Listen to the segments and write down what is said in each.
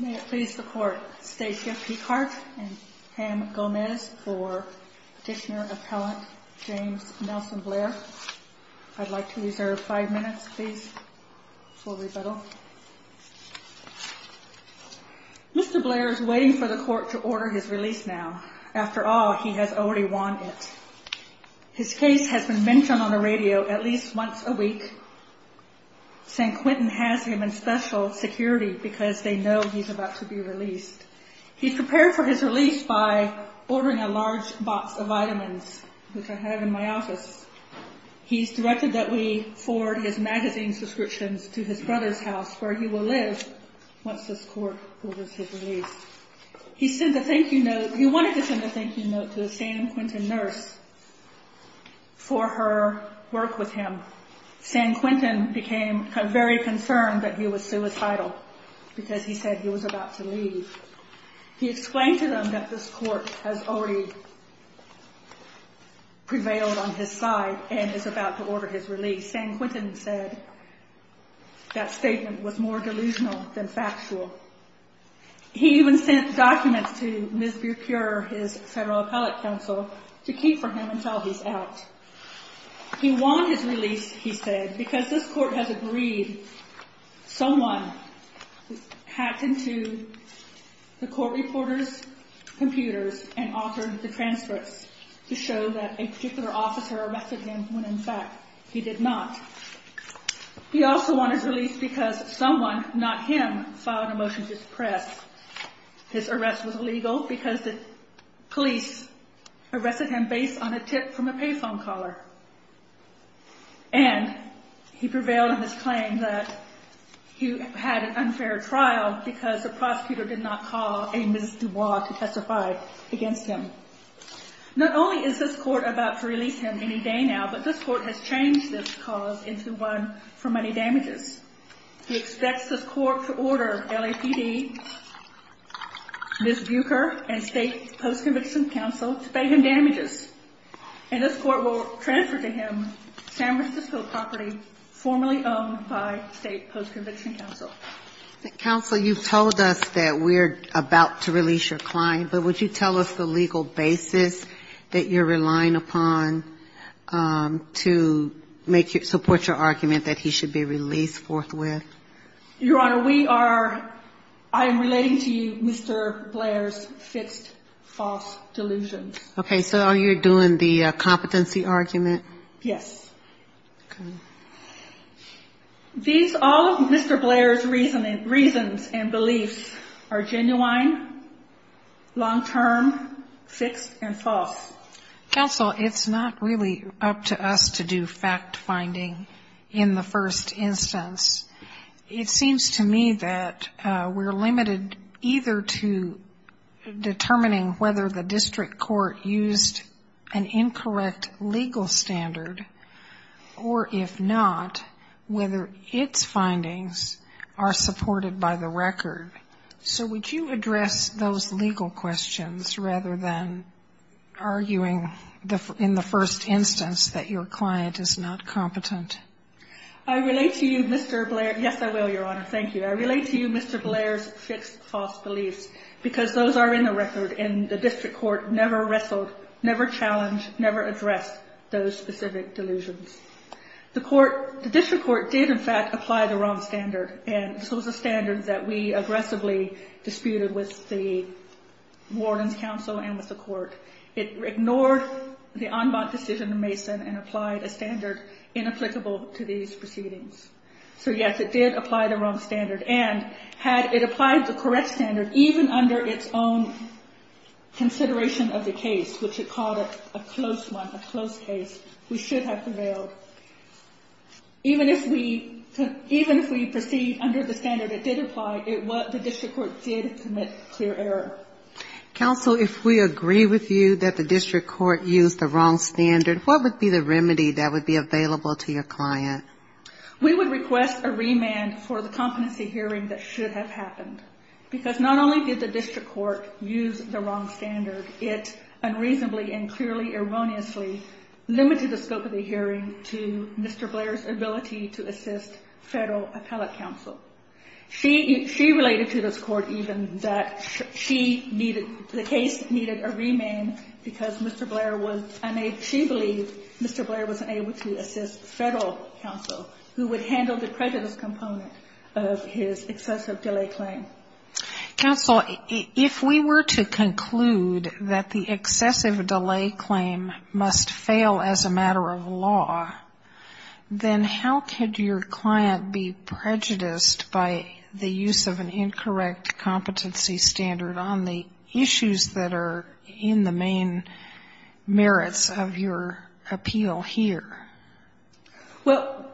May it please the Court, Stacia Picard and Pam Gomez for Petitioner-Appellant James Nelson Blair. I'd like to reserve five minutes, please, for rebuttal. Mr. Blair is waiting for the Court to order his release now. After all, he has already won it. His case has been mentioned on the radio at least once a week. San Quentin has him in special security because they know he's about to be released. He's prepared for his release by ordering a large box of vitamins, which I have in my office. He's directed that we forward his magazine's descriptions to his brother's house, where he will live once this Court orders his release. He wanted to send a thank you note to a San Quentin nurse for her work with him. San Quentin became very concerned that he was suicidal because he said he was about to leave. He explained to them that this Court has already prevailed on his side and is about to order his release. San Quentin said that statement was more delusional than factual. He even sent documents to Ms. Burecure, his Federal Appellate Counsel, to keep for him until he's out. He won his release, he said, because this Court has agreed someone hacked into the Court reporter's computers and authored the transcripts to show that a particular officer arrested him when, in fact, he did not. He also won his release because someone, not him, filed a motion to suppress. His arrest was illegal because the police arrested him based on a tip from a pay phone caller. And he prevailed on his claim that he had an unfair trial because the prosecutor did not call a Ms. Dubois to testify against him. Not only is this Court about to release him any day now, but this Court has changed this cause into one for money damages. He expects this Court to order LAPD, Ms. Burecure, and State Post-Conviction Counsel to pay him damages. And this Court will transfer to him San Francisco property formerly owned by State Post-Conviction Counsel. Counsel, you've told us that we're about to release your client, but would you tell us the legal basis that you're relying upon to support your argument that he should be released forthwith? Your Honor, I am relating to you Mr. Blair's fixed false delusions. Okay, so you're doing the competency argument? Yes. Okay. These all of Mr. Blair's reasons and beliefs are genuine, long-term, fixed, and false. Counsel, it's not really up to us to do fact-finding in the first instance. It seems to me that we're limited either to determining whether the district court used an incorrect legal standard, or if not, whether its findings are supported by the record. So would you address those legal questions rather than arguing in the first instance that your client is not competent? I relate to you Mr. Blair's — yes, I will, Your Honor, thank you. I relate to you Mr. Blair's fixed false beliefs, because those are in the record, and the district court never wrestled, never challenged, never addressed those specific delusions. The court — the district court did, in fact, apply the wrong standard, and so was the standard that we aggressively disputed with the warden's counsel and with the court. It ignored the en banc decision of Mason and applied a standard inapplicable to these proceedings. So yes, it did apply the wrong standard, and had it applied the correct standard, even under its own consideration of the case, which it called a close one, a close case, we should have prevailed. Even if we proceed under the standard it did apply, the district court did commit clear error. Counsel, if we agree with you that the district court used the wrong standard, what would be the remedy that would be available to your client? We would request a remand for the competency hearing that should have happened, because not only did the district court use the wrong standard, it unreasonably and clearly erroneously limited the scope of the hearing to Mr. Blair's ability to assist federal appellate counsel. She — she related to this court, even, that she needed — the case needed a remand because Mr. Blair was unable — she believed Mr. Blair was unable to assist federal counsel who would handle the prejudice component of his excessive delay claim. Counsel, if we were to conclude that the excessive delay claim must fail as a matter of law, then how could your client be prejudiced by the use of an incorrect competency standard on the issues that are in the main merits of your appeal here? Well,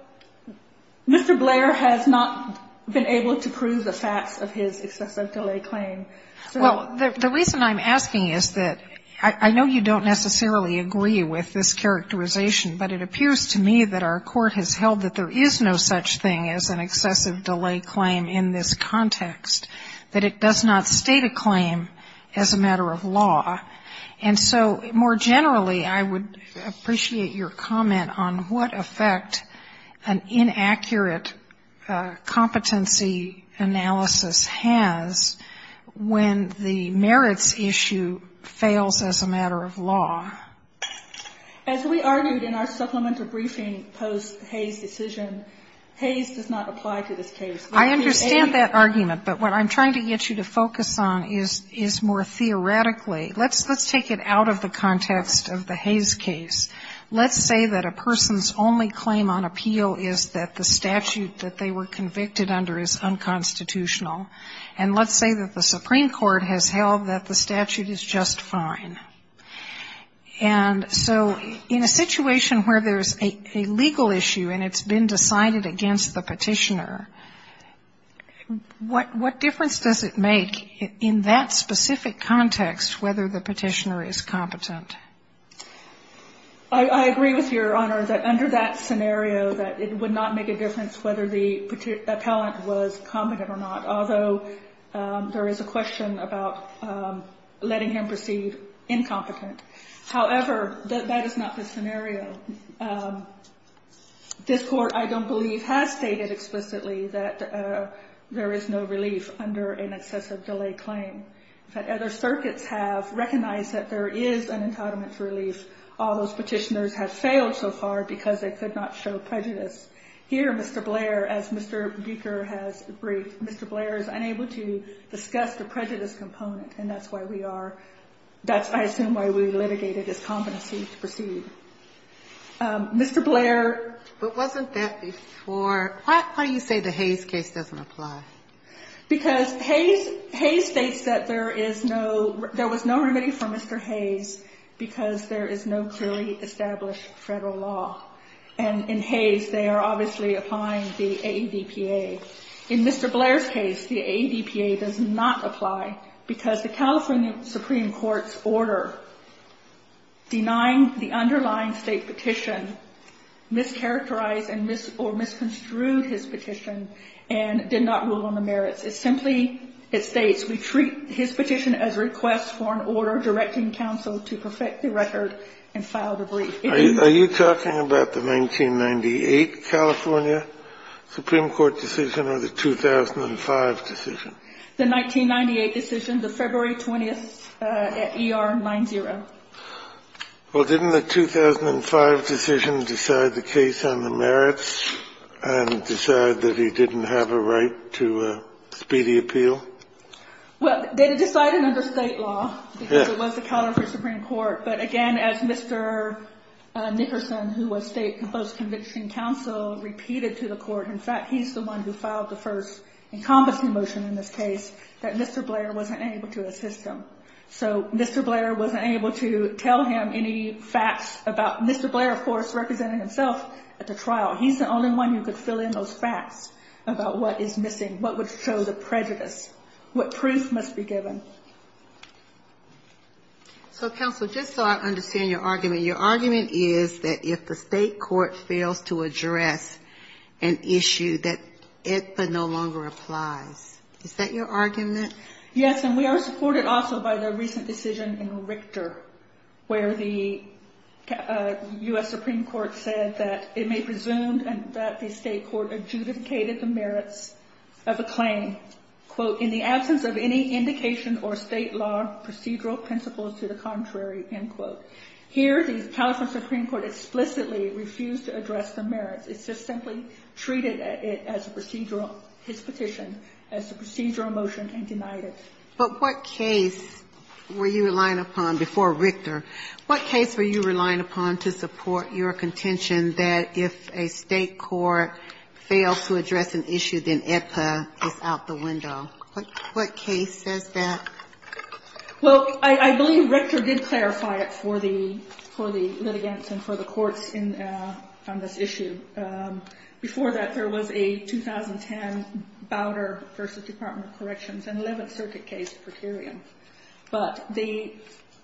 Mr. Blair has not been able to prove the facts of his excessive delay claim. Well, the reason I'm asking is that I know you don't necessarily agree with this characterization, but it appears to me that our court has held that there is no such thing as an excessive delay claim in this context, that it does not state a claim as a matter of law. And so more generally, I would appreciate your comment on what effect an inaccurate competency analysis has when the merits issue fails as a matter of law. As we argued in our supplemental briefing post-Hayes decision, Hayes does not apply to this case. I understand that argument, but what I'm trying to get you to focus on is more theoretically. Let's take it out of the context of the Hayes case. Let's say that a person's only claim on appeal is that the statute that they were convicted under is unconstitutional. And let's say that the Supreme Court has held that the statute is just fine. And so in a situation where there's a legal issue and it's been decided against the Petitioner, what difference does it make in that specific context whether the Petitioner is competent? I agree with Your Honor that under that scenario that it would not make a difference whether the appellant was competent or not, although there is a question about letting him proceed incompetent. However, that is not the scenario. This Court, I don't believe, has stated explicitly that there is no relief under an excessive delay claim. In fact, other circuits have recognized that there is an entitlement for relief. All those Petitioners have failed so far because they could not show prejudice. Here, Mr. Blair, as Mr. Buecher has briefed, Mr. Blair is unable to discuss the prejudice component, and that's why we are – that's, I assume, why we litigated his competency to proceed. Mr. Blair – But wasn't that before? Why do you say the Hayes case doesn't apply? Because Hayes – Hayes states that there is no – there was no remedy for Mr. Hayes because there is no clearly established Federal law. And in Hayes, they are obviously applying the AEDPA. In Mr. Blair's case, the AEDPA does not apply because the California Supreme Court's order denying the underlying State petition mischaracterized or misconstrued his petition and did not rule on the merits. It simply – it states, we treat his petition as a request for an order directing counsel to perfect the record and file the brief. Are you talking about the 1998 California Supreme Court decision or the 2005 decision? The 1998 decision, the February 20th at ER 9-0. Well, didn't the 2005 decision decide the case on the merits and decide that he didn't have a right to speedy appeal? Well, they decided under State law because it was the California Supreme Court. But again, as Mr. Nickerson, who was State post-conviction counsel, repeated to the court – in fact, he's the one who filed the first encompassing motion in this case – that Mr. Blair wasn't able to assist him. So Mr. Blair wasn't able to tell him any facts about – Mr. Blair, of course, represented himself at the trial. He's the only one who could fill in those facts about what is missing, what would show the prejudice, what proof must be given. So, counsel, just so I understand your argument, your argument is that if the State court fails to address an issue that it no longer applies. Is that your argument? Yes, and we are supported also by the recent decision in Richter where the U.S. Supreme Court said that it may presume that the State court adjudicated the merits of a claim, quote, in the absence of any indication or State law procedural principles to the contrary, end quote. Here, the California Supreme Court explicitly refused to address the merits. It just simply treated it as a procedural – his petition as a procedural motion and denied it. But what case were you relying upon before Richter? What case were you relying upon to support your contention that if a State court fails to address an issue, then AEDPA is out the window? What case says that? Well, I believe Richter did clarify it for the litigants and for the courts on this issue. Before that, there was a 2010 Bowder v. Department of Corrections, an 11th Circuit case, per curiam. But the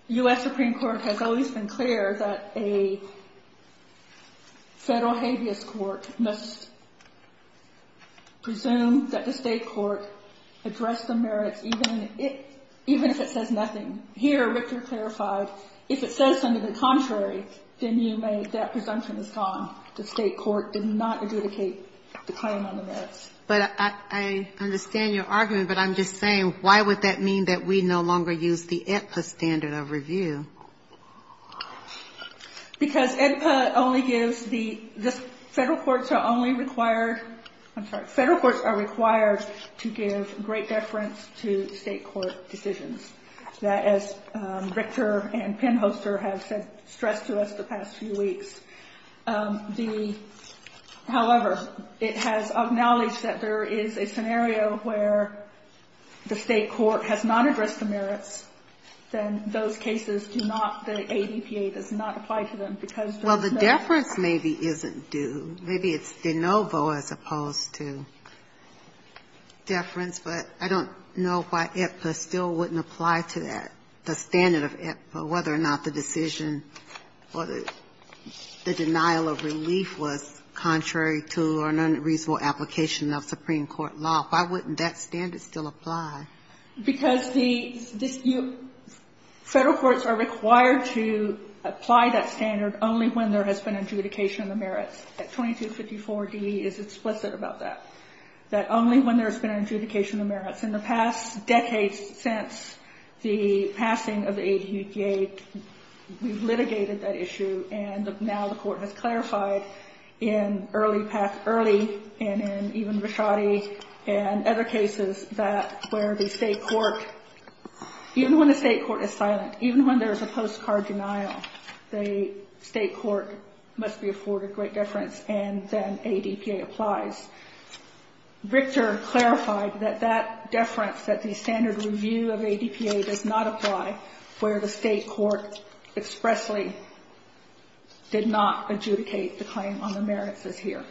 U.S. Supreme Court has always been clear that a Federal habeas court must presume that the State court addressed the merits, even if it says nothing. Here, Richter clarified, if it says something contrary, then you may – that presumption is gone. The State court did not adjudicate the claim on the merits. But I understand your argument, but I'm just saying, why would that mean that we no longer use the AEDPA standard of review? Because AEDPA only gives the – the Federal courts are only required – I'm sorry, Federal courts are required to give great deference to State court decisions. That, as Richter and Penhoster have said – stressed to us the past few weeks. The – however, it has acknowledged that there is a scenario where the State court has not addressed the merits, then those cases do not – the AEDPA does not apply to them because there is no – Well, the deference maybe isn't due. Maybe it's de novo as opposed to deference, but I don't know why AEDPA still wouldn't apply to that, the standard of AEDPA, whether or not the decision or the denial of relief was contrary to or an unreasonable application of Supreme Court law. Why wouldn't that standard still apply? Because the – Federal courts are required to apply that standard only when there has been adjudication of the merits. 2254d is explicit about that, that only when there has been adjudication of merits. In the past decades since the passing of the AEDPA, we've litigated that issue, and now the court has clarified in early – past early and in even Rashadi and other cases that where the State court – even when the State court is silent, even when there is a postcard denial, the State court must be afforded great deference and then AEDPA applies. Richter clarified that that deference, that the standard review of AEDPA does not apply where the State court expressly did not adjudicate the claim on the merits as here.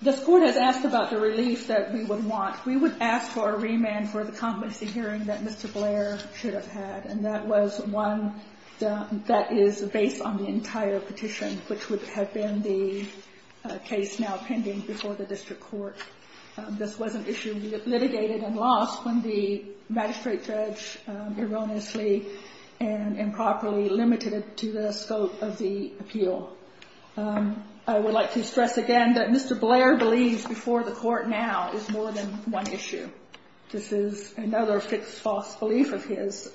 This court has asked about the relief that we would want. We would ask for a remand for the competency hearing that Mr. Blair should have had, and that was one that is based on the entire petition, which would have been the case now pending before the district court. This was an issue we litigated and lost when the magistrate judge erroneously and improperly limited it to the scope of the appeal. I would like to stress again that Mr. Blair believes before the court now is more than one issue. This is another fixed false belief of his.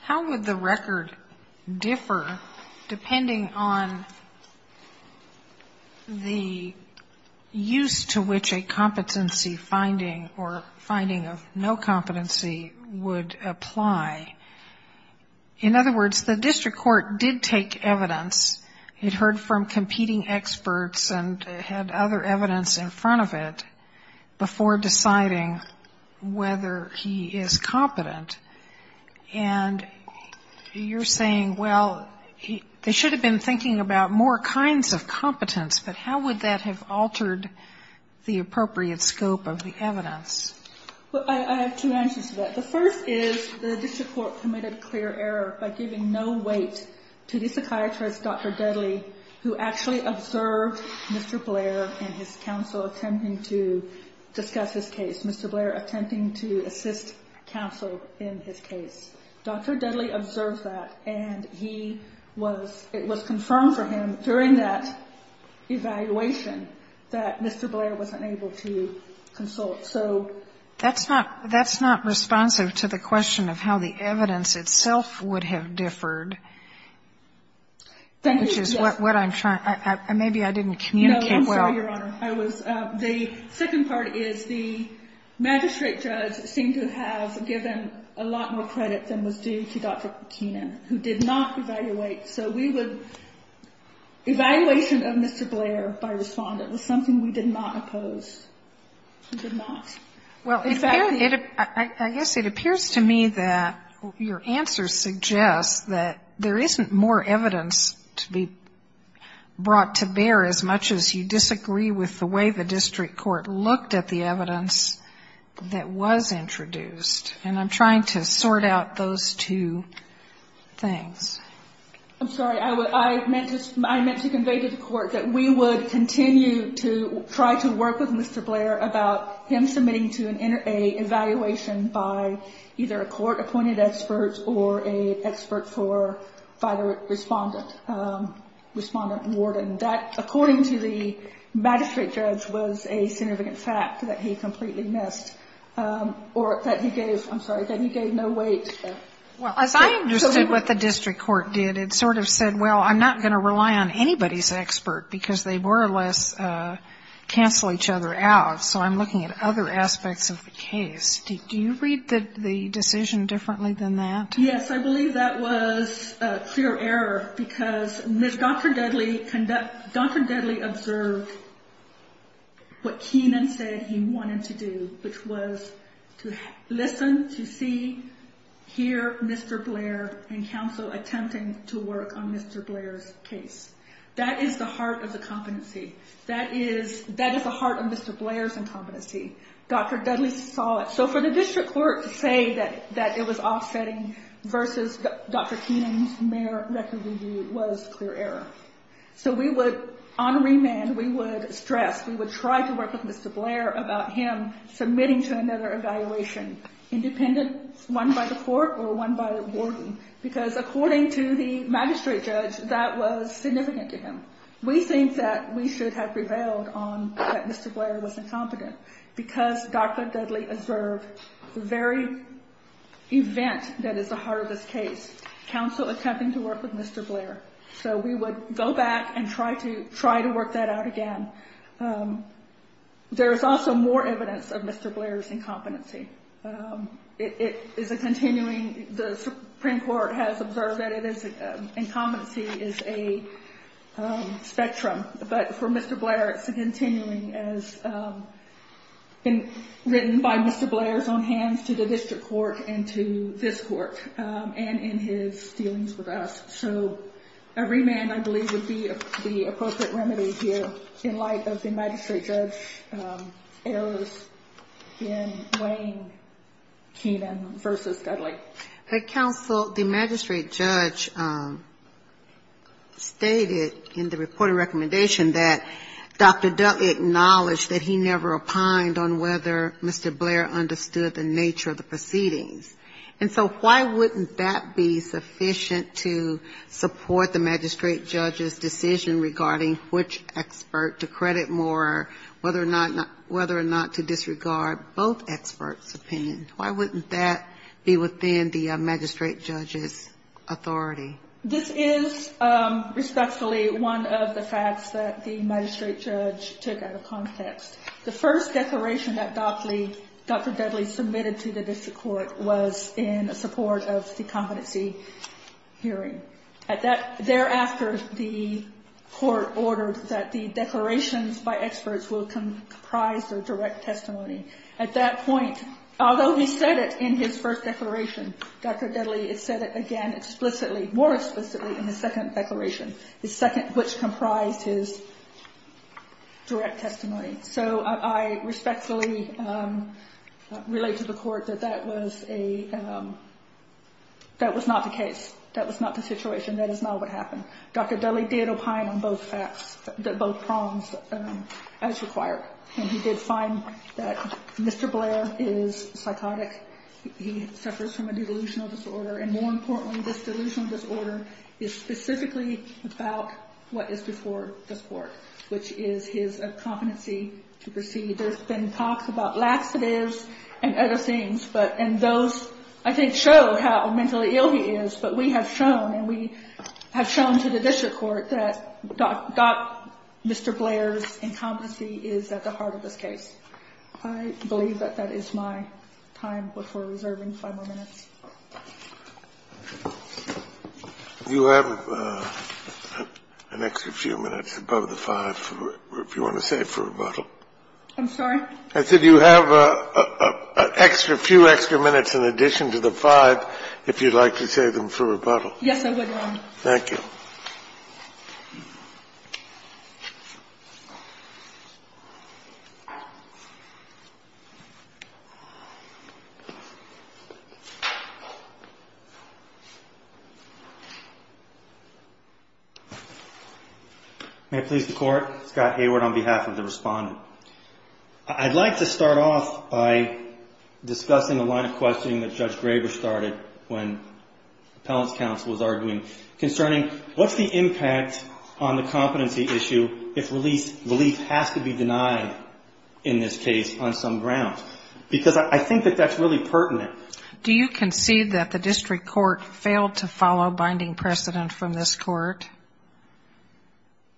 How would the record differ depending on the use to which a competency finding or finding of no competency would apply? In other words, the district court did take evidence. It heard from competing experts and had other evidence in front of it before deciding whether he is competent. And you're saying, well, they should have been thinking about more kinds of competence, but how would that have altered the appropriate scope of the evidence? Well, I have two answers to that. The first is the district court committed clear error by giving no weight to the psychiatrist, Dr. Dudley, who actually observed Mr. Blair and his counsel attempting to discuss his case, Mr. Blair attempting to assist counsel in his case. Dr. Dudley observed that, and he was ‑‑ it was confirmed for him during that evaluation that Mr. Blair was unable to consult. So ‑‑ That's not ‑‑ that's not responsive to the question of how the evidence itself would have differed, which is what I'm trying ‑‑ maybe I didn't communicate well. No, I'm sorry, Your Honor. I was ‑‑ the second part is the magistrate judge seemed to have given a lot more credit than was due to Dr. Katina, who did not evaluate. So we would ‑‑ evaluation of Mr. Blair by respondent was something we did not oppose. We did not. Well, if I ‑‑ I guess it appears to me that your answer suggests that there isn't more evidence to be brought to bear as much as you disagree with the way the district court looked at the evidence that was introduced. And I'm trying to sort out those two things. I'm sorry. I meant to convey to the court that we would continue to try to work with Mr. Blair about him submitting to an evaluation by either a court‑appointed expert or an expert for the case by the respondent, respondent warden. That, according to the magistrate judge, was a significant fact that he completely missed or that he gave ‑‑ I'm sorry, that he gave no weight. Well, as I understood what the district court did, it sort of said, well, I'm not going to rely on anybody's expert because they more or less cancel each other out. So I'm looking at other aspects of the case. Do you read the decision differently than that? Yes, I believe that was a clear error because Dr. Dudley observed what Keenan said he wanted to do, which was to listen, to see, hear Mr. Blair and counsel attempting to work on Mr. Blair's case. That is the heart of the competency. That is the heart of Mr. Blair's competency. Dr. Dudley saw it. So for the district court to say that it was offsetting versus Dr. Keenan's mere record review was a clear error. So we would ‑‑ on remand, we would stress, we would try to work with Mr. Blair about him submitting to another evaluation, independent, one by the court or one by the warden, because according to the magistrate judge, that was significant to him. We think that we should have prevailed on that Mr. Blair was incompetent because Dr. Dudley observed the very event that is the heart of this case, counsel attempting to work with Mr. Blair. So we would go back and try to work that out again. There is also more evidence of Mr. Blair's incompetency. It is a continuing ‑‑ the Supreme Court has observed that it is ‑‑ incompetency is a spectrum. But for Mr. Blair, it is a continuing as written by Mr. Blair's own hands to the district court and to this court and in his dealings with us. So remand, I believe, would be the appropriate remedy here in light of the magistrate judge errors in weighing Keenan versus Dudley. But counsel, the magistrate judge stated in the reported recommendation that Dr. Dudley acknowledged that he never opined on whether Mr. Blair understood the nature of the proceedings. And so why wouldn't that be sufficient to support the magistrate judge's decision regarding which expert to credit more, whether or not to disregard both experts' opinions? Why wouldn't that be within the magistrate judge's authority? This is respectfully one of the facts that the magistrate judge took out of context. The first declaration that Dr. Dudley submitted to the district court was in support of the competency hearing. Thereafter, the court ordered that the declarations by experts will comprise the direct testimony. At that point, although he said it in his first declaration, Dr. Dudley said it again explicitly, more explicitly in his second declaration, the second which comprised his direct testimony. So I respectfully relate to the court that that was a – that was not the case. That was not the situation. That is not what happened. Dr. Dudley did opine on both facts, both prongs as required. And he did find that Mr. Blair is psychotic. He suffers from a delusional disorder. And more importantly, this delusional disorder is specifically about what is before this Court, which is his competency to proceed. There's been talks about laxatives and other things, but – and those, I think, show how mentally ill he is. But we have shown, and we have shown to the district court, that Dr. – Mr. Blair's I believe that that is my time before reserving five more minutes. You have an extra few minutes above the 5 if you want to save for rebuttal. I'm sorry? I said you have an extra few extra minutes in addition to the 5 if you'd like to save them for rebuttal. Yes, I would, Your Honor. Thank you. May it please the Court? Scott Hayward on behalf of the Respondent. I'd like to start off by discussing a line of questioning that Judge Graber started when appellant's counsel was arguing concerning what's the impact on the competency issue if relief has to be denied in this case on some grounds? Because I think that that's really pertinent. Do you concede that the district court failed to follow binding precedent from this court?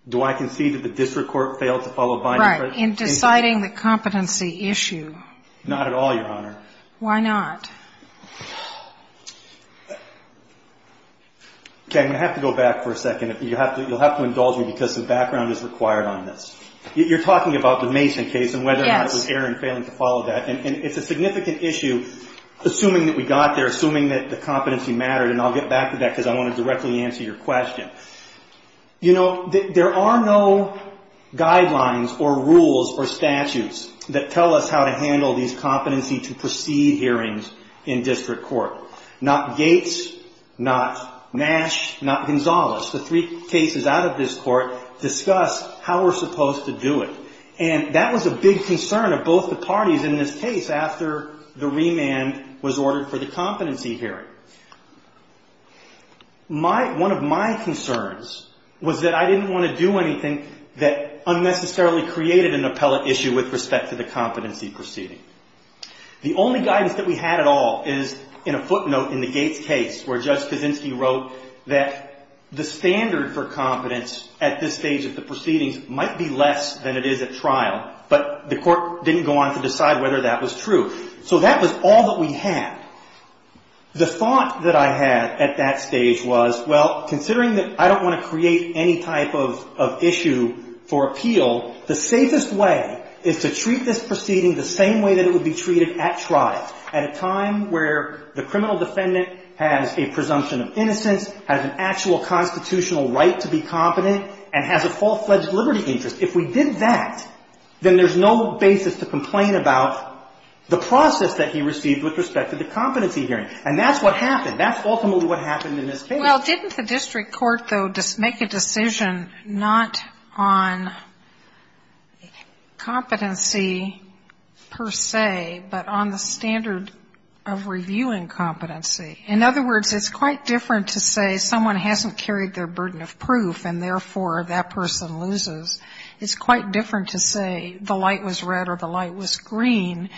Do I concede that the district court failed to follow binding precedent? Right. In deciding the competency issue. Not at all, Your Honor. Why not? Okay, I'm going to have to go back for a second. You'll have to indulge me because the background is required on this. You're talking about the Mason case and whether or not it was Aaron failing to follow that. And it's a significant issue, assuming that we got there, assuming that the competency mattered. And I'll get back to that because I want to directly answer your question. You know, there are no guidelines or rules or statutes that tell us how to handle these competency to proceed hearings in district court. Not Gates, not Nash, not Gonzales. The three cases out of this court discuss how we're supposed to do it. And that was a big concern of both the parties in this case after the remand was ordered for the competency hearing. One of my concerns was that I didn't want to do anything that unnecessarily created an appellate issue with respect to the competency proceeding. The only guidance that we had at all is in a footnote in the Gates case where Judge Kaczynski wrote that the standard for competence at this stage of the proceedings might be less than it is at trial, but the court didn't go on to decide whether that was true. So that was all that we had. The thought that I had at that stage was, well, considering that I don't want to is to treat this proceeding the same way that it would be treated at trial, at a time where the criminal defendant has a presumption of innocence, has an actual constitutional right to be competent, and has a full-fledged liberty interest. If we did that, then there's no basis to complain about the process that he received with respect to the competency hearing. And that's what happened. That's ultimately what happened in this case. Well, didn't the district court, though, make a decision not on competency per se, but on the standard of reviewing competency? In other words, it's quite different to say someone hasn't carried their burden of proof, and therefore that person loses. It's quite different to say the light was red or the light was green,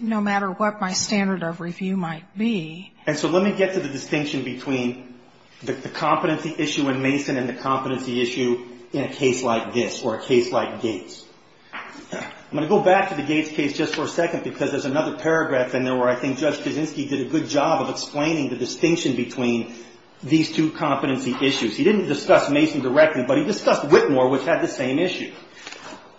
no matter what my standard of review might be. And so let me get to the distinction between the competency issue in Mason and the competency issue in a case like this, or a case like Gates. I'm going to go back to the Gates case just for a second, because there's another paragraph in there where I think Judge Kaczynski did a good job of explaining the distinction between these two competency issues. He didn't discuss Mason directly, but he discussed Whitmore, which had the same issue.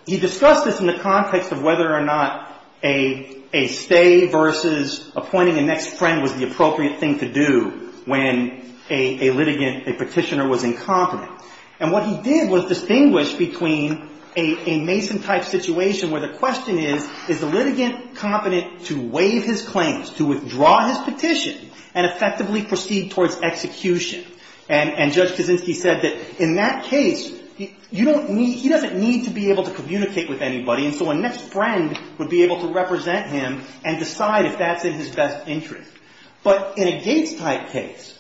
He discussed this in the context of whether or not a stay versus appointing a next friend was the appropriate thing to do when a litigant, a petitioner was incompetent. And what he did was distinguish between a Mason-type situation where the question is, is the litigant competent to waive his claims, to withdraw his petition, and effectively proceed towards execution? And Judge Kaczynski said that in that case, he doesn't need to be able to communicate with anybody, and so a next friend would be able to represent him and decide if that's in his best interest. But in a Gates-type case,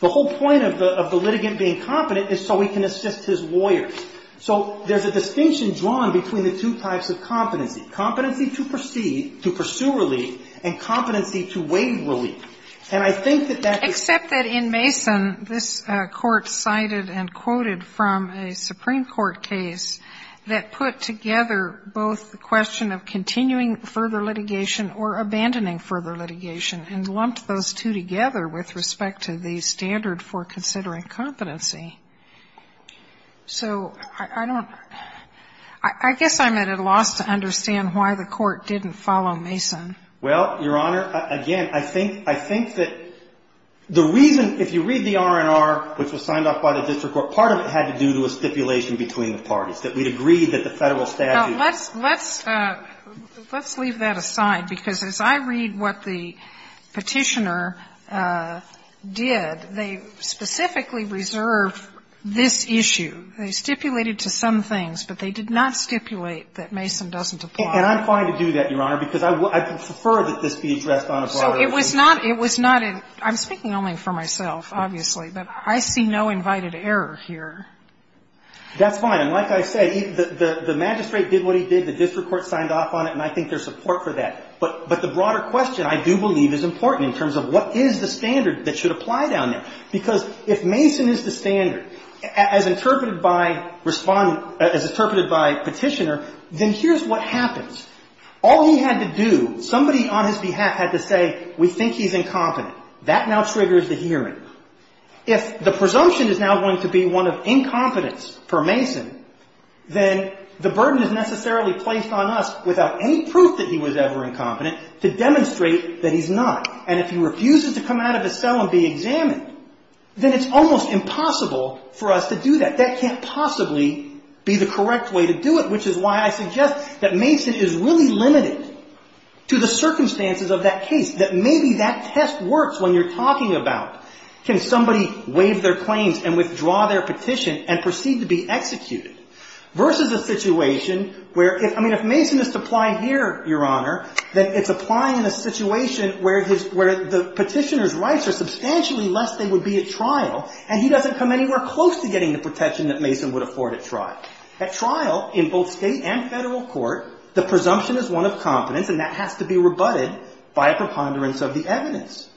the whole point of the litigant being competent is so he can assist his lawyers. So there's a distinction drawn between the two types of competency, competency to proceed, to pursue relief, and competency to waive relief. And I think that that is the case. Except that in Mason, this Court cited and quoted from a Supreme Court case that put together both the question of continuing further litigation or abandoning further litigation, and lumped those two together with respect to the standard for considering competency. So I don't ‑‑ I guess I'm at a loss to understand why the Court didn't follow Mason. Well, Your Honor, again, I think that the reason, if you read the R&R, which was signed off by the district court, part of it had to do with stipulation between the parties, that we'd agree that the Federal statute ‑‑ Now, let's leave that aside, because as I read what the Petitioner did, they specifically reserved this issue. They stipulated to some things, but they did not stipulate that Mason doesn't apply. And I'm fine to do that, Your Honor, because I prefer that this be addressed on a broader issue. So it was not ‑‑ I'm speaking only for myself, obviously, but I see no invited error here. That's fine. And like I say, the magistrate did what he did. The district court signed off on it, and I think there's support for that. But the broader question, I do believe, is important in terms of what is the standard that should apply down there. Because if Mason is the standard, as interpreted by respondent ‑‑ as interpreted by Petitioner, then here's what happens. All he had to do, somebody on his behalf had to say, we think he's incompetent. That now triggers the hearing. If the presumption is now going to be one of incompetence for Mason, then the burden is necessarily placed on us, without any proof that he was ever incompetent, to demonstrate that he's not. And if he refuses to come out of his cell and be examined, then it's almost impossible for us to do that. That can't possibly be the correct way to do it, which is why I suggest that Mason is really limited to the circumstances of that case, that maybe that test works when you're talking about, can somebody waive their claims and withdraw their petition and proceed to be executed, versus a situation where, I mean, if Mason is to apply here, Your Honor, then it's applying in a situation where the Petitioner's rights are substantially less than they would be at trial, and he doesn't come anywhere close to getting the protection that Mason would afford at trial. At trial, in both state and federal court, the presumption is one of competence, and that has to be rebutted by a preponderance of the evidence.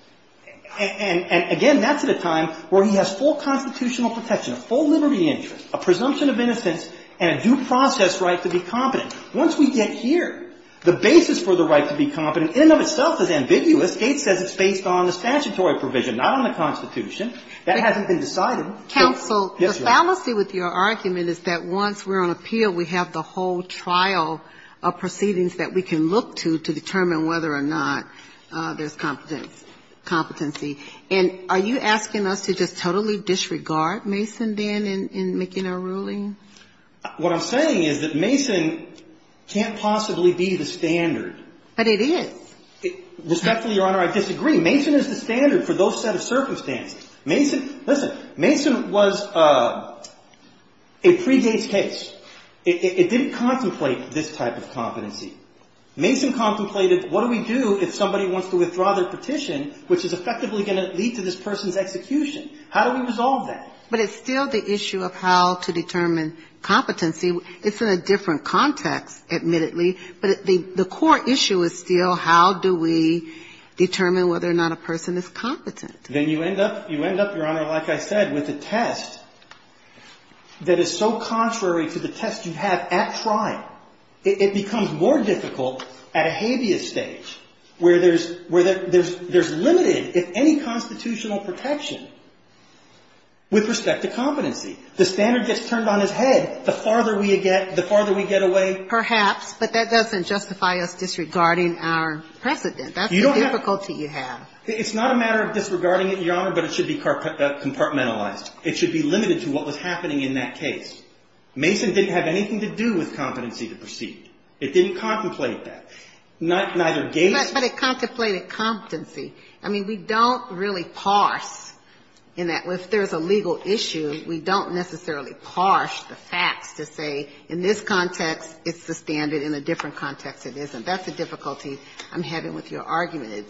And again, that's at a time where he has full constitutional protection, a full liberty interest, a presumption of innocence, and a due process right to be competent. Once we get here, the basis for the right to be competent in and of itself is ambiguous. Gates says it's based on the statutory provision, not on the Constitution. That hasn't been decided. Yes, Your Honor. Counsel, the fallacy with your argument is that once we're on appeal, we have the whole trial of proceedings that we can look to to determine whether or not there's competence, competency. And are you asking us to just totally disregard Mason, then, in making our ruling? What I'm saying is that Mason can't possibly be the standard. But it is. Respectfully, Your Honor, I disagree. Mason is the standard for those set of circumstances. Mason, listen, Mason was a pre-Gates case. It didn't contemplate this type of competency. Mason contemplated what do we do if somebody wants to withdraw their petition, which is effectively going to lead to this person's execution. How do we resolve that? But it's still the issue of how to determine competency. It's in a different context, admittedly. But the core issue is still how do we determine whether or not a person is competent. Then you end up, Your Honor, like I said, with a test that is so contrary to the test you have at trial. It becomes more difficult at a habeas stage where there's limited, if any, constitutional protection with respect to competency. The standard gets turned on its head the farther we get away. Perhaps. But that doesn't justify us disregarding our precedent. That's the difficulty you have. It's not a matter of disregarding it, Your Honor, but it should be compartmentalized. It should be limited to what was happening in that case. Mason didn't have anything to do with competency to proceed. It didn't contemplate that. Neither Gates. But it contemplated competency. I mean, we don't really parse in that. If there's a legal issue, we don't necessarily parse the facts to say in this context it's the standard, in a different context it isn't. That's the difficulty I'm having with your argument.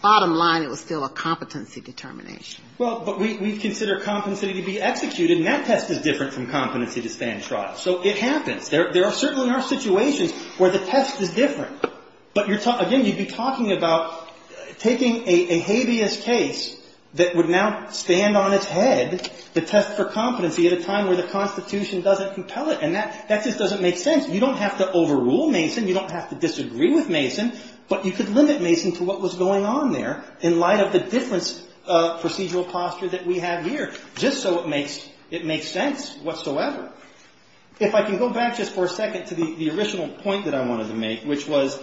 Bottom line, it was still a competency determination. Well, but we consider competency to be executed, and that test is different from competency to stand trial. So it happens. There are certain situations where the test is different. But, again, you'd be talking about taking a habeas case that would now stand on its head, the test for competency, at a time where the Constitution doesn't compel it. And that just doesn't make sense. You don't have to overrule Mason. You don't have to disagree with Mason. But you could limit Mason to what was going on there in light of the different procedural posture that we have here, just so it makes sense whatsoever. If I can go back just for a second to the original point that I wanted to make, which was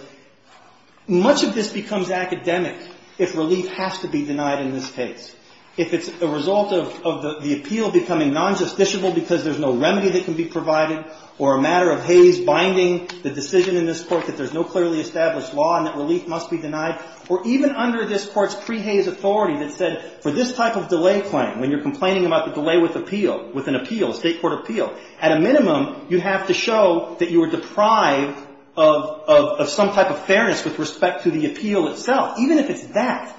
much of this becomes academic if relief has to be denied in this case. If it's a result of the appeal becoming non-justiciable because there's no remedy that can be provided or a matter of Hays binding the decision in this Court that there's no clearly established law and that relief must be denied, or even under this Court's pre-Hays authority that said for this type of delay claim, when you're complaining about the delay with appeal, with an appeal, a State court appeal, at a minimum, you have to show that you were deprived of some type of fairness with respect to the appeal itself. Even if it's that,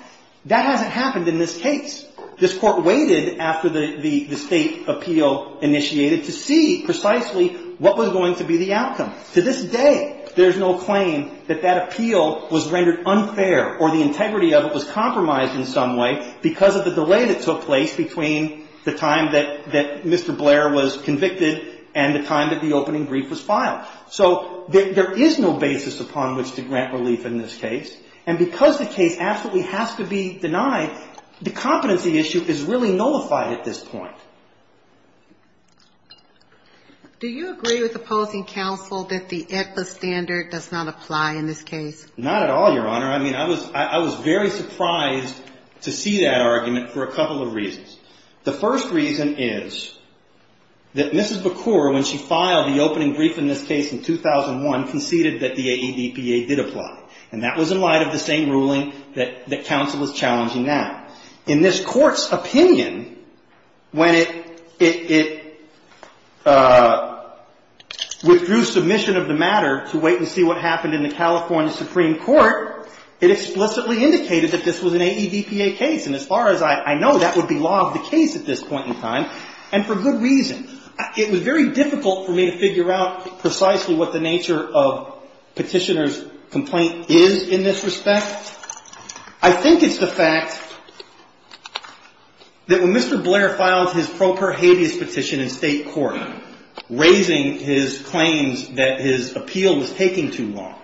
that hasn't happened in this case. This Court waited after the State appeal initiated to see precisely what was going to be the outcome. To this day, there's no claim that that appeal was rendered unfair or the integrity of it was compromised in some way because of the delay that took place between the time that Mr. Blair was convicted and the time that the opening brief was filed. So there is no basis upon which to grant relief in this case. And because the case absolutely has to be denied, the competency issue is really nullified at this point. Do you agree with opposing counsel that the ECBA standard does not apply in this case? Not at all, Your Honor. I mean, I was very surprised to see that argument for a couple of reasons. The first reason is that Mrs. Bacour, when she filed the opening brief in this case in 2001, conceded that the AEDPA did apply. And that was in light of the same ruling that counsel was challenging now. In this Court's opinion, when it withdrew submission of the matter to wait and see what happened in the California Supreme Court, it explicitly indicated that this was an AEDPA case. And as far as I know, that would be law of the case at this point in time, and for good reason. It was very difficult for me to figure out precisely what the nature of petitioner's complaint is in this respect. I think it's the fact that when Mr. Blair filed his pro per habeas petition in state court, raising his claims that his appeal was taking too long,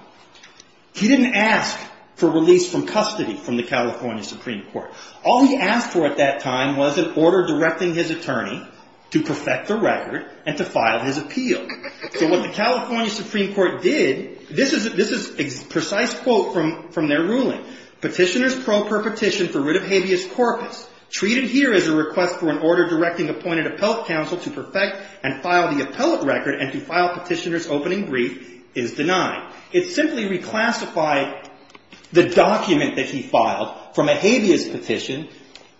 he didn't ask for release from custody from the California Supreme Court. All he asked for at that time was an order directing his attorney to perfect the record and to file his appeal. So what the California Supreme Court did, this is a precise quote from their ruling. Petitioner's pro per petition for writ of habeas corpus treated here as a request for an order directing appointed appellate counsel to perfect and file the appellate record and to file petitioner's opening brief is denied. It simply reclassified the document that he filed from a habeas petition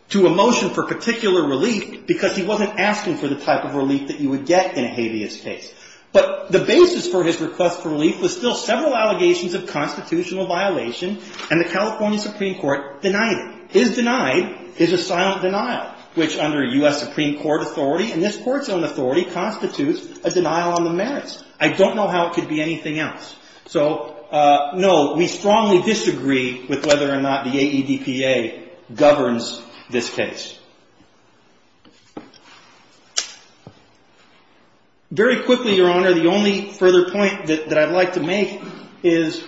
to a motion for particular relief, because he wasn't asking for the type of relief that you would get in a habeas case. But the basis for his request for relief was still several allegations of constitutional violation, and the California Supreme Court denied it. His denied is a silent denial, which under U.S. Supreme Court authority and this court's own authority constitutes a denial on the merits. I don't know how it could be anything else. So, no, we strongly disagree with whether or not the AEDPA governs this case. Very quickly, Your Honor, the only further point that I'd like to make is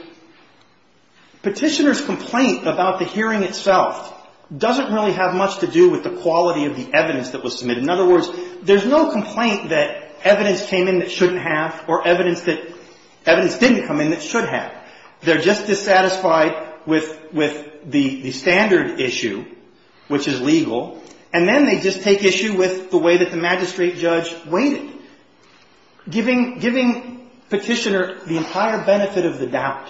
petitioner's complaint about the hearing itself doesn't really have much to do with the quality of the evidence that was submitted. In other words, there's no complaint that evidence came in that shouldn't have or evidence that evidence didn't come in that should have. They're just dissatisfied with the standard issue, which is legal, and then they just take issue with the way that the magistrate judge waited, giving petitioner the entire benefit of the doubt,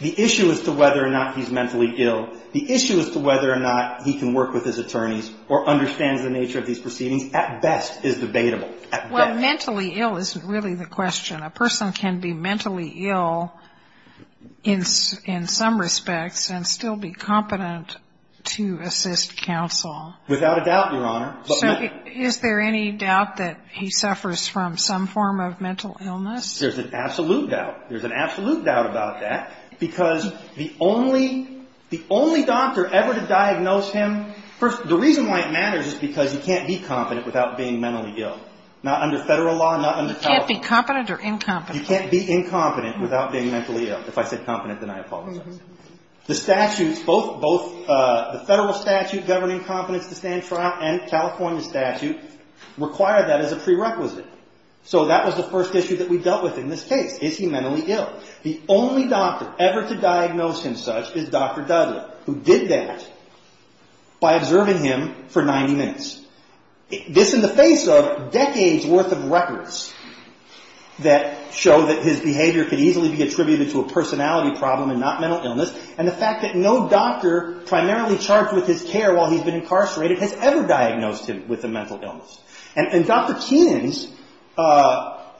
the issue as to whether or not he's mentally ill, the issue as to whether or not he can work with his attorneys or understands the nature of these proceedings at best is debatable. Well, mentally ill isn't really the question. A person can be mentally ill in some respects and still be competent to assist counsel. Without a doubt, Your Honor. So is there any doubt that he suffers from some form of mental illness? There's an absolute doubt. There's an absolute doubt about that because the only doctor ever to diagnose him, the reason why it matters is because he can't be competent without being mentally ill, not under Federal law, not under California law. He can't be competent or incompetent. He can't be incompetent without being mentally ill. If I said competent, then I apologize. The statutes, both the Federal statute governing competence to stand trial and California statute require that as a prerequisite. So that was the first issue that we dealt with in this case. Is he mentally ill? The only doctor ever to diagnose him such is Dr. Dudley who did that by observing him for 90 minutes. This in the face of decades worth of records that show that his behavior could easily be attributed to a personality problem and not mental illness and the fact that no doctor primarily charged with his care while he's been incarcerated has ever diagnosed him with a mental illness. And Dr. Keenan's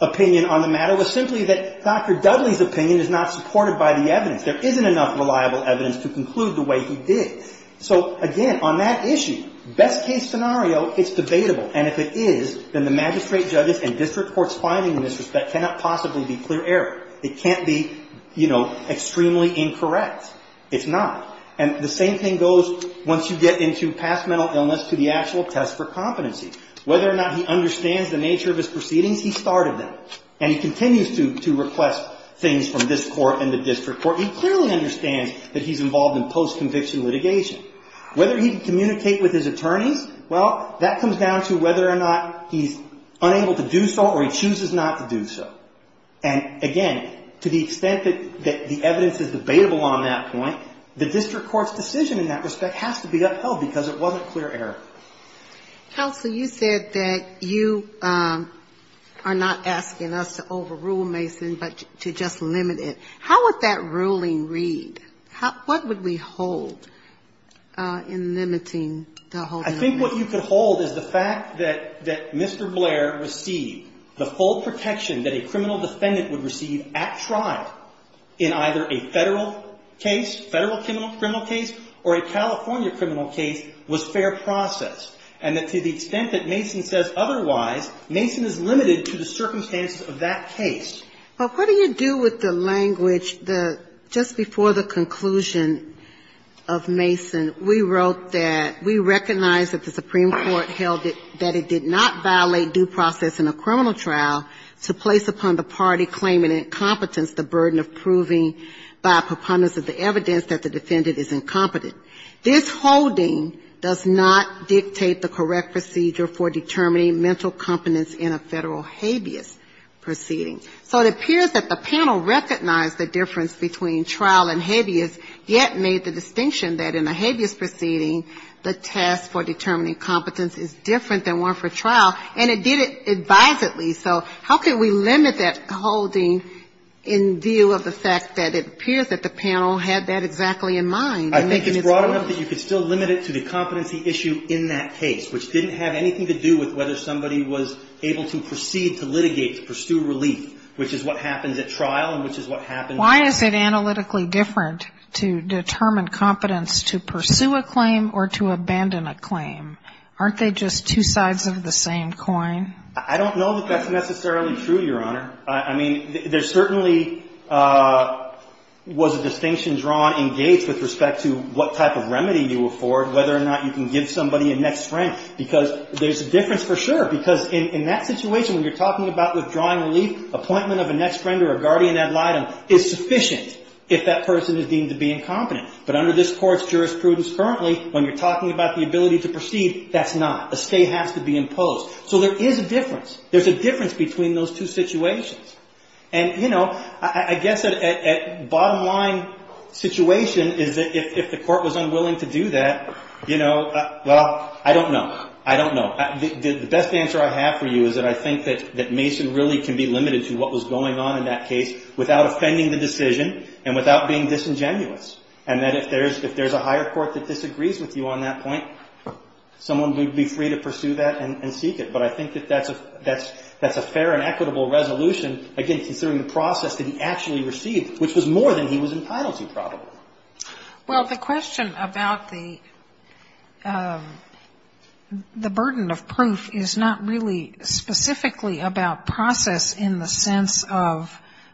opinion on the matter was simply that Dr. Dudley's opinion is not supported by the evidence. There isn't enough reliable evidence to conclude the way he did. So, again, on that issue, best case scenario, it's debatable. And if it is, then the magistrate judges and district courts finding in this respect cannot possibly be clear error. It can't be, you know, extremely incorrect. It's not. And the same thing goes once you get into past mental illness to the actual test for competency. Whether or not he understands the nature of his proceedings, he started them. And he continues to request things from this court and the district court. He clearly understands that he's involved in post-conviction litigation. Whether he can communicate with his attorneys, well, that comes down to whether or not he's unable to do so or he chooses not to do so. And, again, to the extent that the evidence is debatable on that point, the district court's decision in that respect has to be upheld because it wasn't clear error. Counsel, you said that you are not asking us to overrule Mason but to just limit it. How would that ruling read? What would we hold in limiting the holding of Mason? I think what you could hold is the fact that Mr. Blair received the full protection that a criminal defendant would receive at trial in either a Federal case, Federal criminal case, or a California criminal case was fair process. And that to the extent that Mason says otherwise, Mason is limited to the circumstances of that case. But what do you do with the language that just before the conclusion of Mason, we wrote that we recognize that the Supreme Court held that it did not by a preponderance of the evidence that the defendant is incompetent. This holding does not dictate the correct procedure for determining mental competence in a Federal habeas proceeding. So it appears that the panel recognized the difference between trial and habeas, yet made the distinction that in a habeas proceeding, the test for determining competence is different than one for trial, and it did it advisedly. So how can we limit that holding in view of the fact that it appears that the panel had that exactly in mind? I think it's broad enough that you could still limit it to the competency issue in that case, which didn't have anything to do with whether somebody was able to proceed to litigate, to pursue relief, which is what happens at trial and which is what happens at trial. Why is it analytically different to determine competence to pursue a claim or to abandon a claim? Aren't they just two sides of the same coin? I don't know that that's necessarily true, Your Honor. I mean, there certainly was a distinction drawn in Gates with respect to what type of remedy you afford, whether or not you can give somebody a next friend, because there's a difference for sure, because in that situation, when you're talking about withdrawing relief, appointment of a next friend or a guardian ad litem is sufficient if that person is deemed to be incompetent. But under this Court's jurisprudence currently, when you're talking about the ability to proceed, that's not. A stay has to be imposed. So there is a difference. There's a difference between those two situations. And I guess a bottom line situation is that if the Court was unwilling to do that, well, I don't know. I don't know. The best answer I have for you is that I think that Mason really can be limited to what was going on in that case without offending the decision and without being disingenuous, and that if there's a higher court that disagrees with you on that point, someone would be free to pursue that and seek it. But I think that that's a fair and equitable resolution, again, considering the process that he actually received, which was more than he was entitled to, probably. Well, the question about the burden of proof is not really specifically about process in the sense of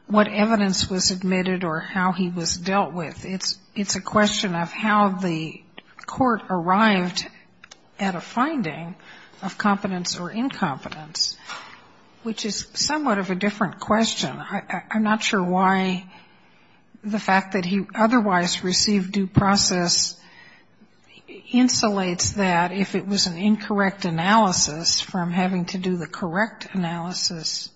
what evidence was admitted or how he was dealt with. It's a question of how the court arrived at a finding of competence or incompetence, which is somewhat of a different question. I'm not sure why the fact that he otherwise received due process insulates that if it was an incorrect analysis from having to do the correct analysis.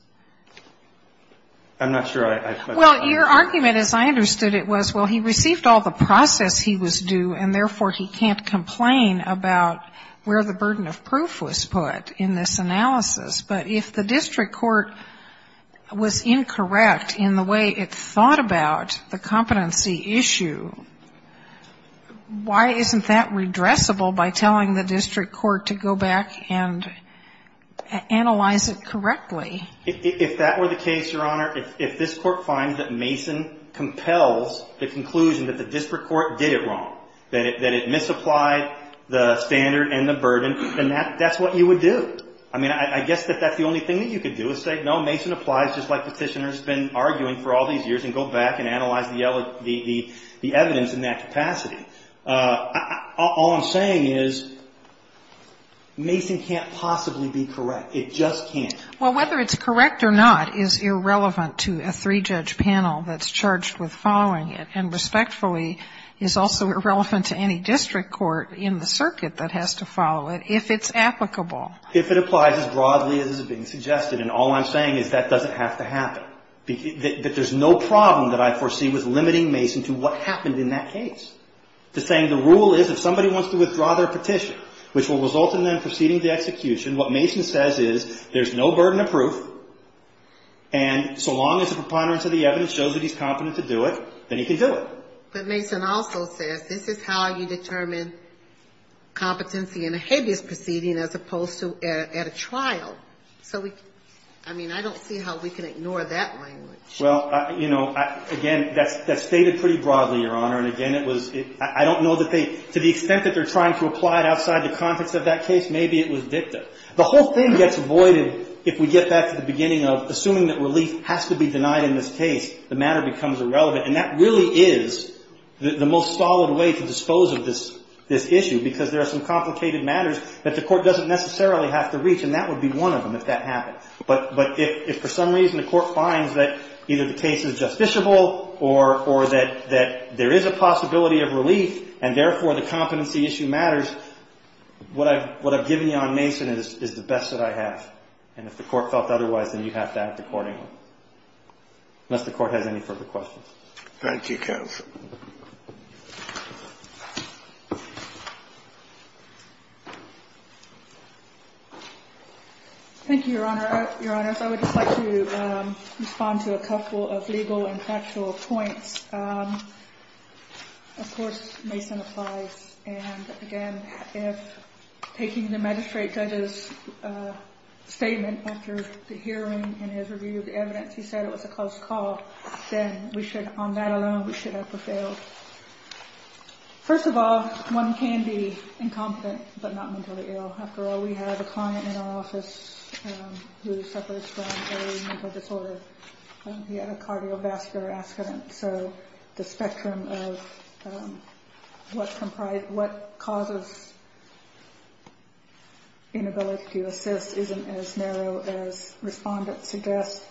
Well, your argument, as I understood it, was, well, he received all the process he was due, and therefore he can't complain about where the burden was, but if the district court was incorrect in the way it thought about the competency issue, why isn't that redressable by telling the district court to go back and analyze it correctly? If that were the case, Your Honor, if this Court finds that Mason compels the conclusion that the district court did it wrong, that it misapplied the evidence, that that's the only thing that you could do is say, no, Mason applies just like Petitioner has been arguing for all these years, and go back and analyze the evidence in that capacity. All I'm saying is Mason can't possibly be correct. It just can't. Well, whether it's correct or not is irrelevant to a three-judge panel that's charged with following it and, respectfully, is also irrelevant to any district court in the circuit that has to follow it, if it's applicable. If it applies as broadly as is being suggested, and all I'm saying is that doesn't have to happen. There's no problem that I foresee with limiting Mason to what happened in that case. The thing, the rule is, if somebody wants to withdraw their petition, which will result in them proceeding to execution, what Mason says is, there's no burden of proof, and so long as the preponderance of the evidence shows that he's competent to do it, then he can do it. But Mason also says, this is how you determine competency in a habeas proceeding as opposed to at a trial. So we, I mean, I don't see how we can ignore that language. Well, you know, again, that's stated pretty broadly, Your Honor, and again, it was, I don't know that they, to the extent that they're trying to apply it outside the context of that case, maybe it was dicta. The whole thing gets voided if we get back to the beginning of assuming that relief has to be denied in this case. The matter becomes irrelevant, and that really is the most solid way to dispose of this issue, because there are some complicated matters that the court doesn't necessarily have to reach, and that would be one of them if that happened. But if for some reason the court finds that either the case is justiciable or that there is a possibility of relief, and therefore the competency issue matters, what I've given you on Mason is the best that I have. And if the court felt otherwise, then you have to act accordingly, unless the court has any further questions. Thank you, counsel. Thank you, Your Honor. Your Honors, I would just like to respond to a couple of legal and factual points. Of course, Mason applies, and again, if taking the magistrate judge's statement after the hearing and his review of the evidence, he said it was a close call, then on that alone we should have prevailed. First of all, one can be incompetent but not mentally ill. After all, we have a client in our office who suffers from a mental disorder. He had a cardiovascular accident, so the spectrum of what causes inability to assist isn't as narrow as respondents suggest.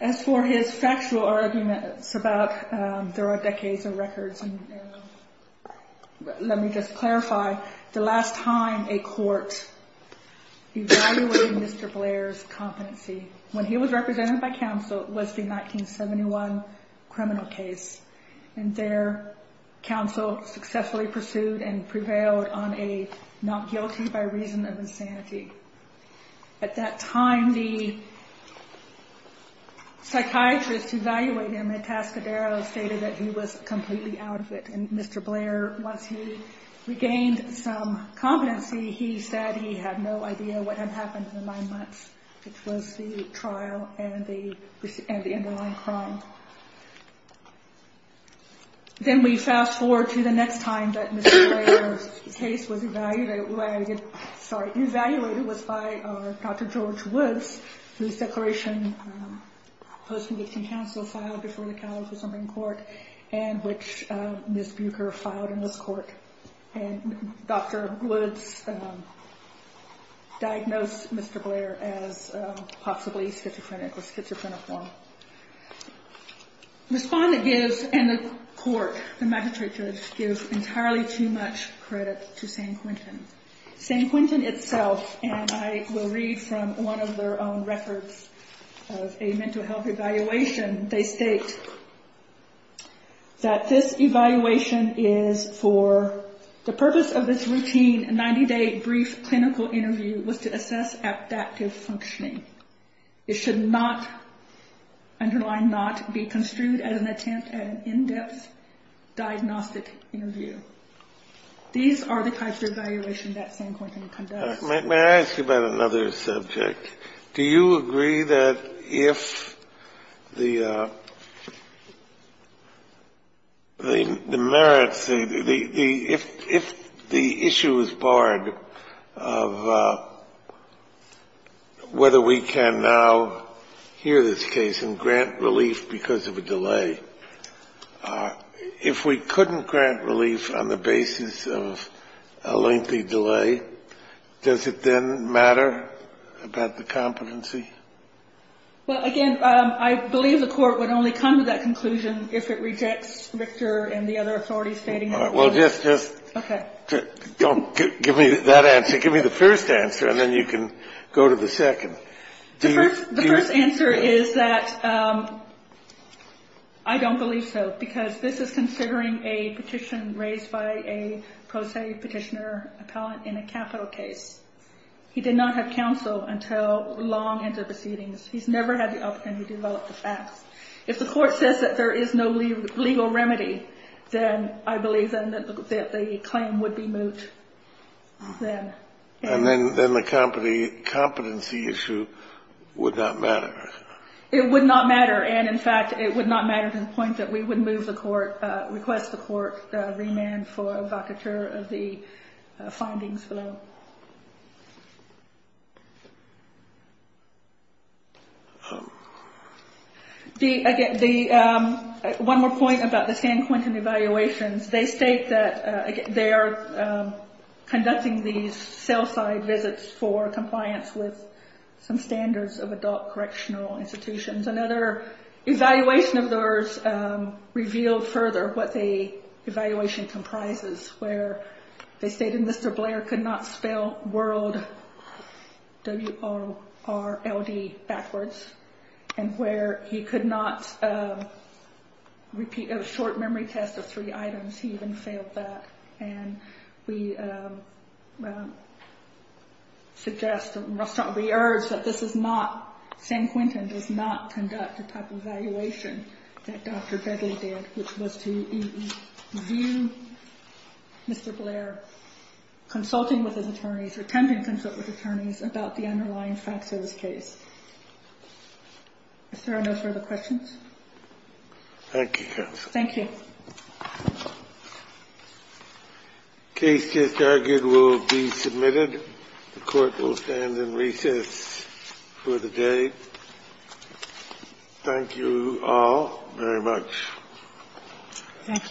As for his factual arguments about there are decades of records, let me just clarify, the last time a court evaluated Mr. Blair's competency when he was represented by counsel was the 1971 criminal case. And their counsel successfully pursued and prevailed on a not guilty by reason of insanity. At that time, the psychiatrist who evaluated him at Tascadero stated that he was completely out of it. And Mr. Blair, once he regained some competency, he said he had no idea what had happened in the nine months, which was the trial and the underlying crime. Then we fast forward to the next time that Mr. Blair's case was evaluated, it was by Dr. George Woods, whose declaration post-conviction counsel filed before the California Supreme Court and which Ms. Buecher filed in this court. And Dr. Woods diagnosed Mr. Blair as possibly schizophrenic or schizophrenic. Respondent gives, and the court, the magistrates give entirely too much credit to San Quentin. San Quentin itself, and I will read from one of their own records of a mental health evaluation, they state that this evaluation is for the purpose of this routine 90-day brief clinical interview was to assess adaptive functioning. It should not, underline not, be construed as an attempt at an in-depth diagnostic interview. These are the types of evaluation that San Quentin conducts. May I ask you about another subject? Do you agree that if the merits, if the issue is barred, that the court should be able to make a decision, whether we can now hear this case and grant relief because of a delay? If we couldn't grant relief on the basis of a lengthy delay, does it then matter about the competency? Well, again, I believe the court would only come to that conclusion if it rejects Richter and the other authorities stating it would. All right. Well, just don't give me that answer. Give me the first answer, and then you can go to the second. The first answer is that I don't believe so, because this is considering a petition raised by a pro se Petitioner appellant in a capital case. He did not have counsel until long into proceedings. He's never had the opportunity to develop the facts. If the court says that there is no legal remedy, then I believe that the claim would be moot then. And then the competency issue would not matter. It would not matter. And, in fact, it would not matter to the point that we would move the court, request the court remand for evocateur of the findings below. One more point about the San Quentin evaluations. They state that they are conducting these sell-side visits for compliance with some standards of adult correctional institutions. Another evaluation of those revealed further what the evaluation comprises, where they stated Mr. Blair could not spell world, W-R-L-D, backwards, and where he could not repeat a short memory test of three items. He even failed that. And we suggest and we urge that this is not, San Quentin does not conduct the type of evaluation that Dr. Begley did, which was to view Mr. Blair consulting with his attorneys, attempting to consult with attorneys about the underlying facts of this case. Is there no further questions? Thank you, counsel. Thank you. The case just argued will be submitted. The court will stand in recess for the day. Thank you all very much. Thank you.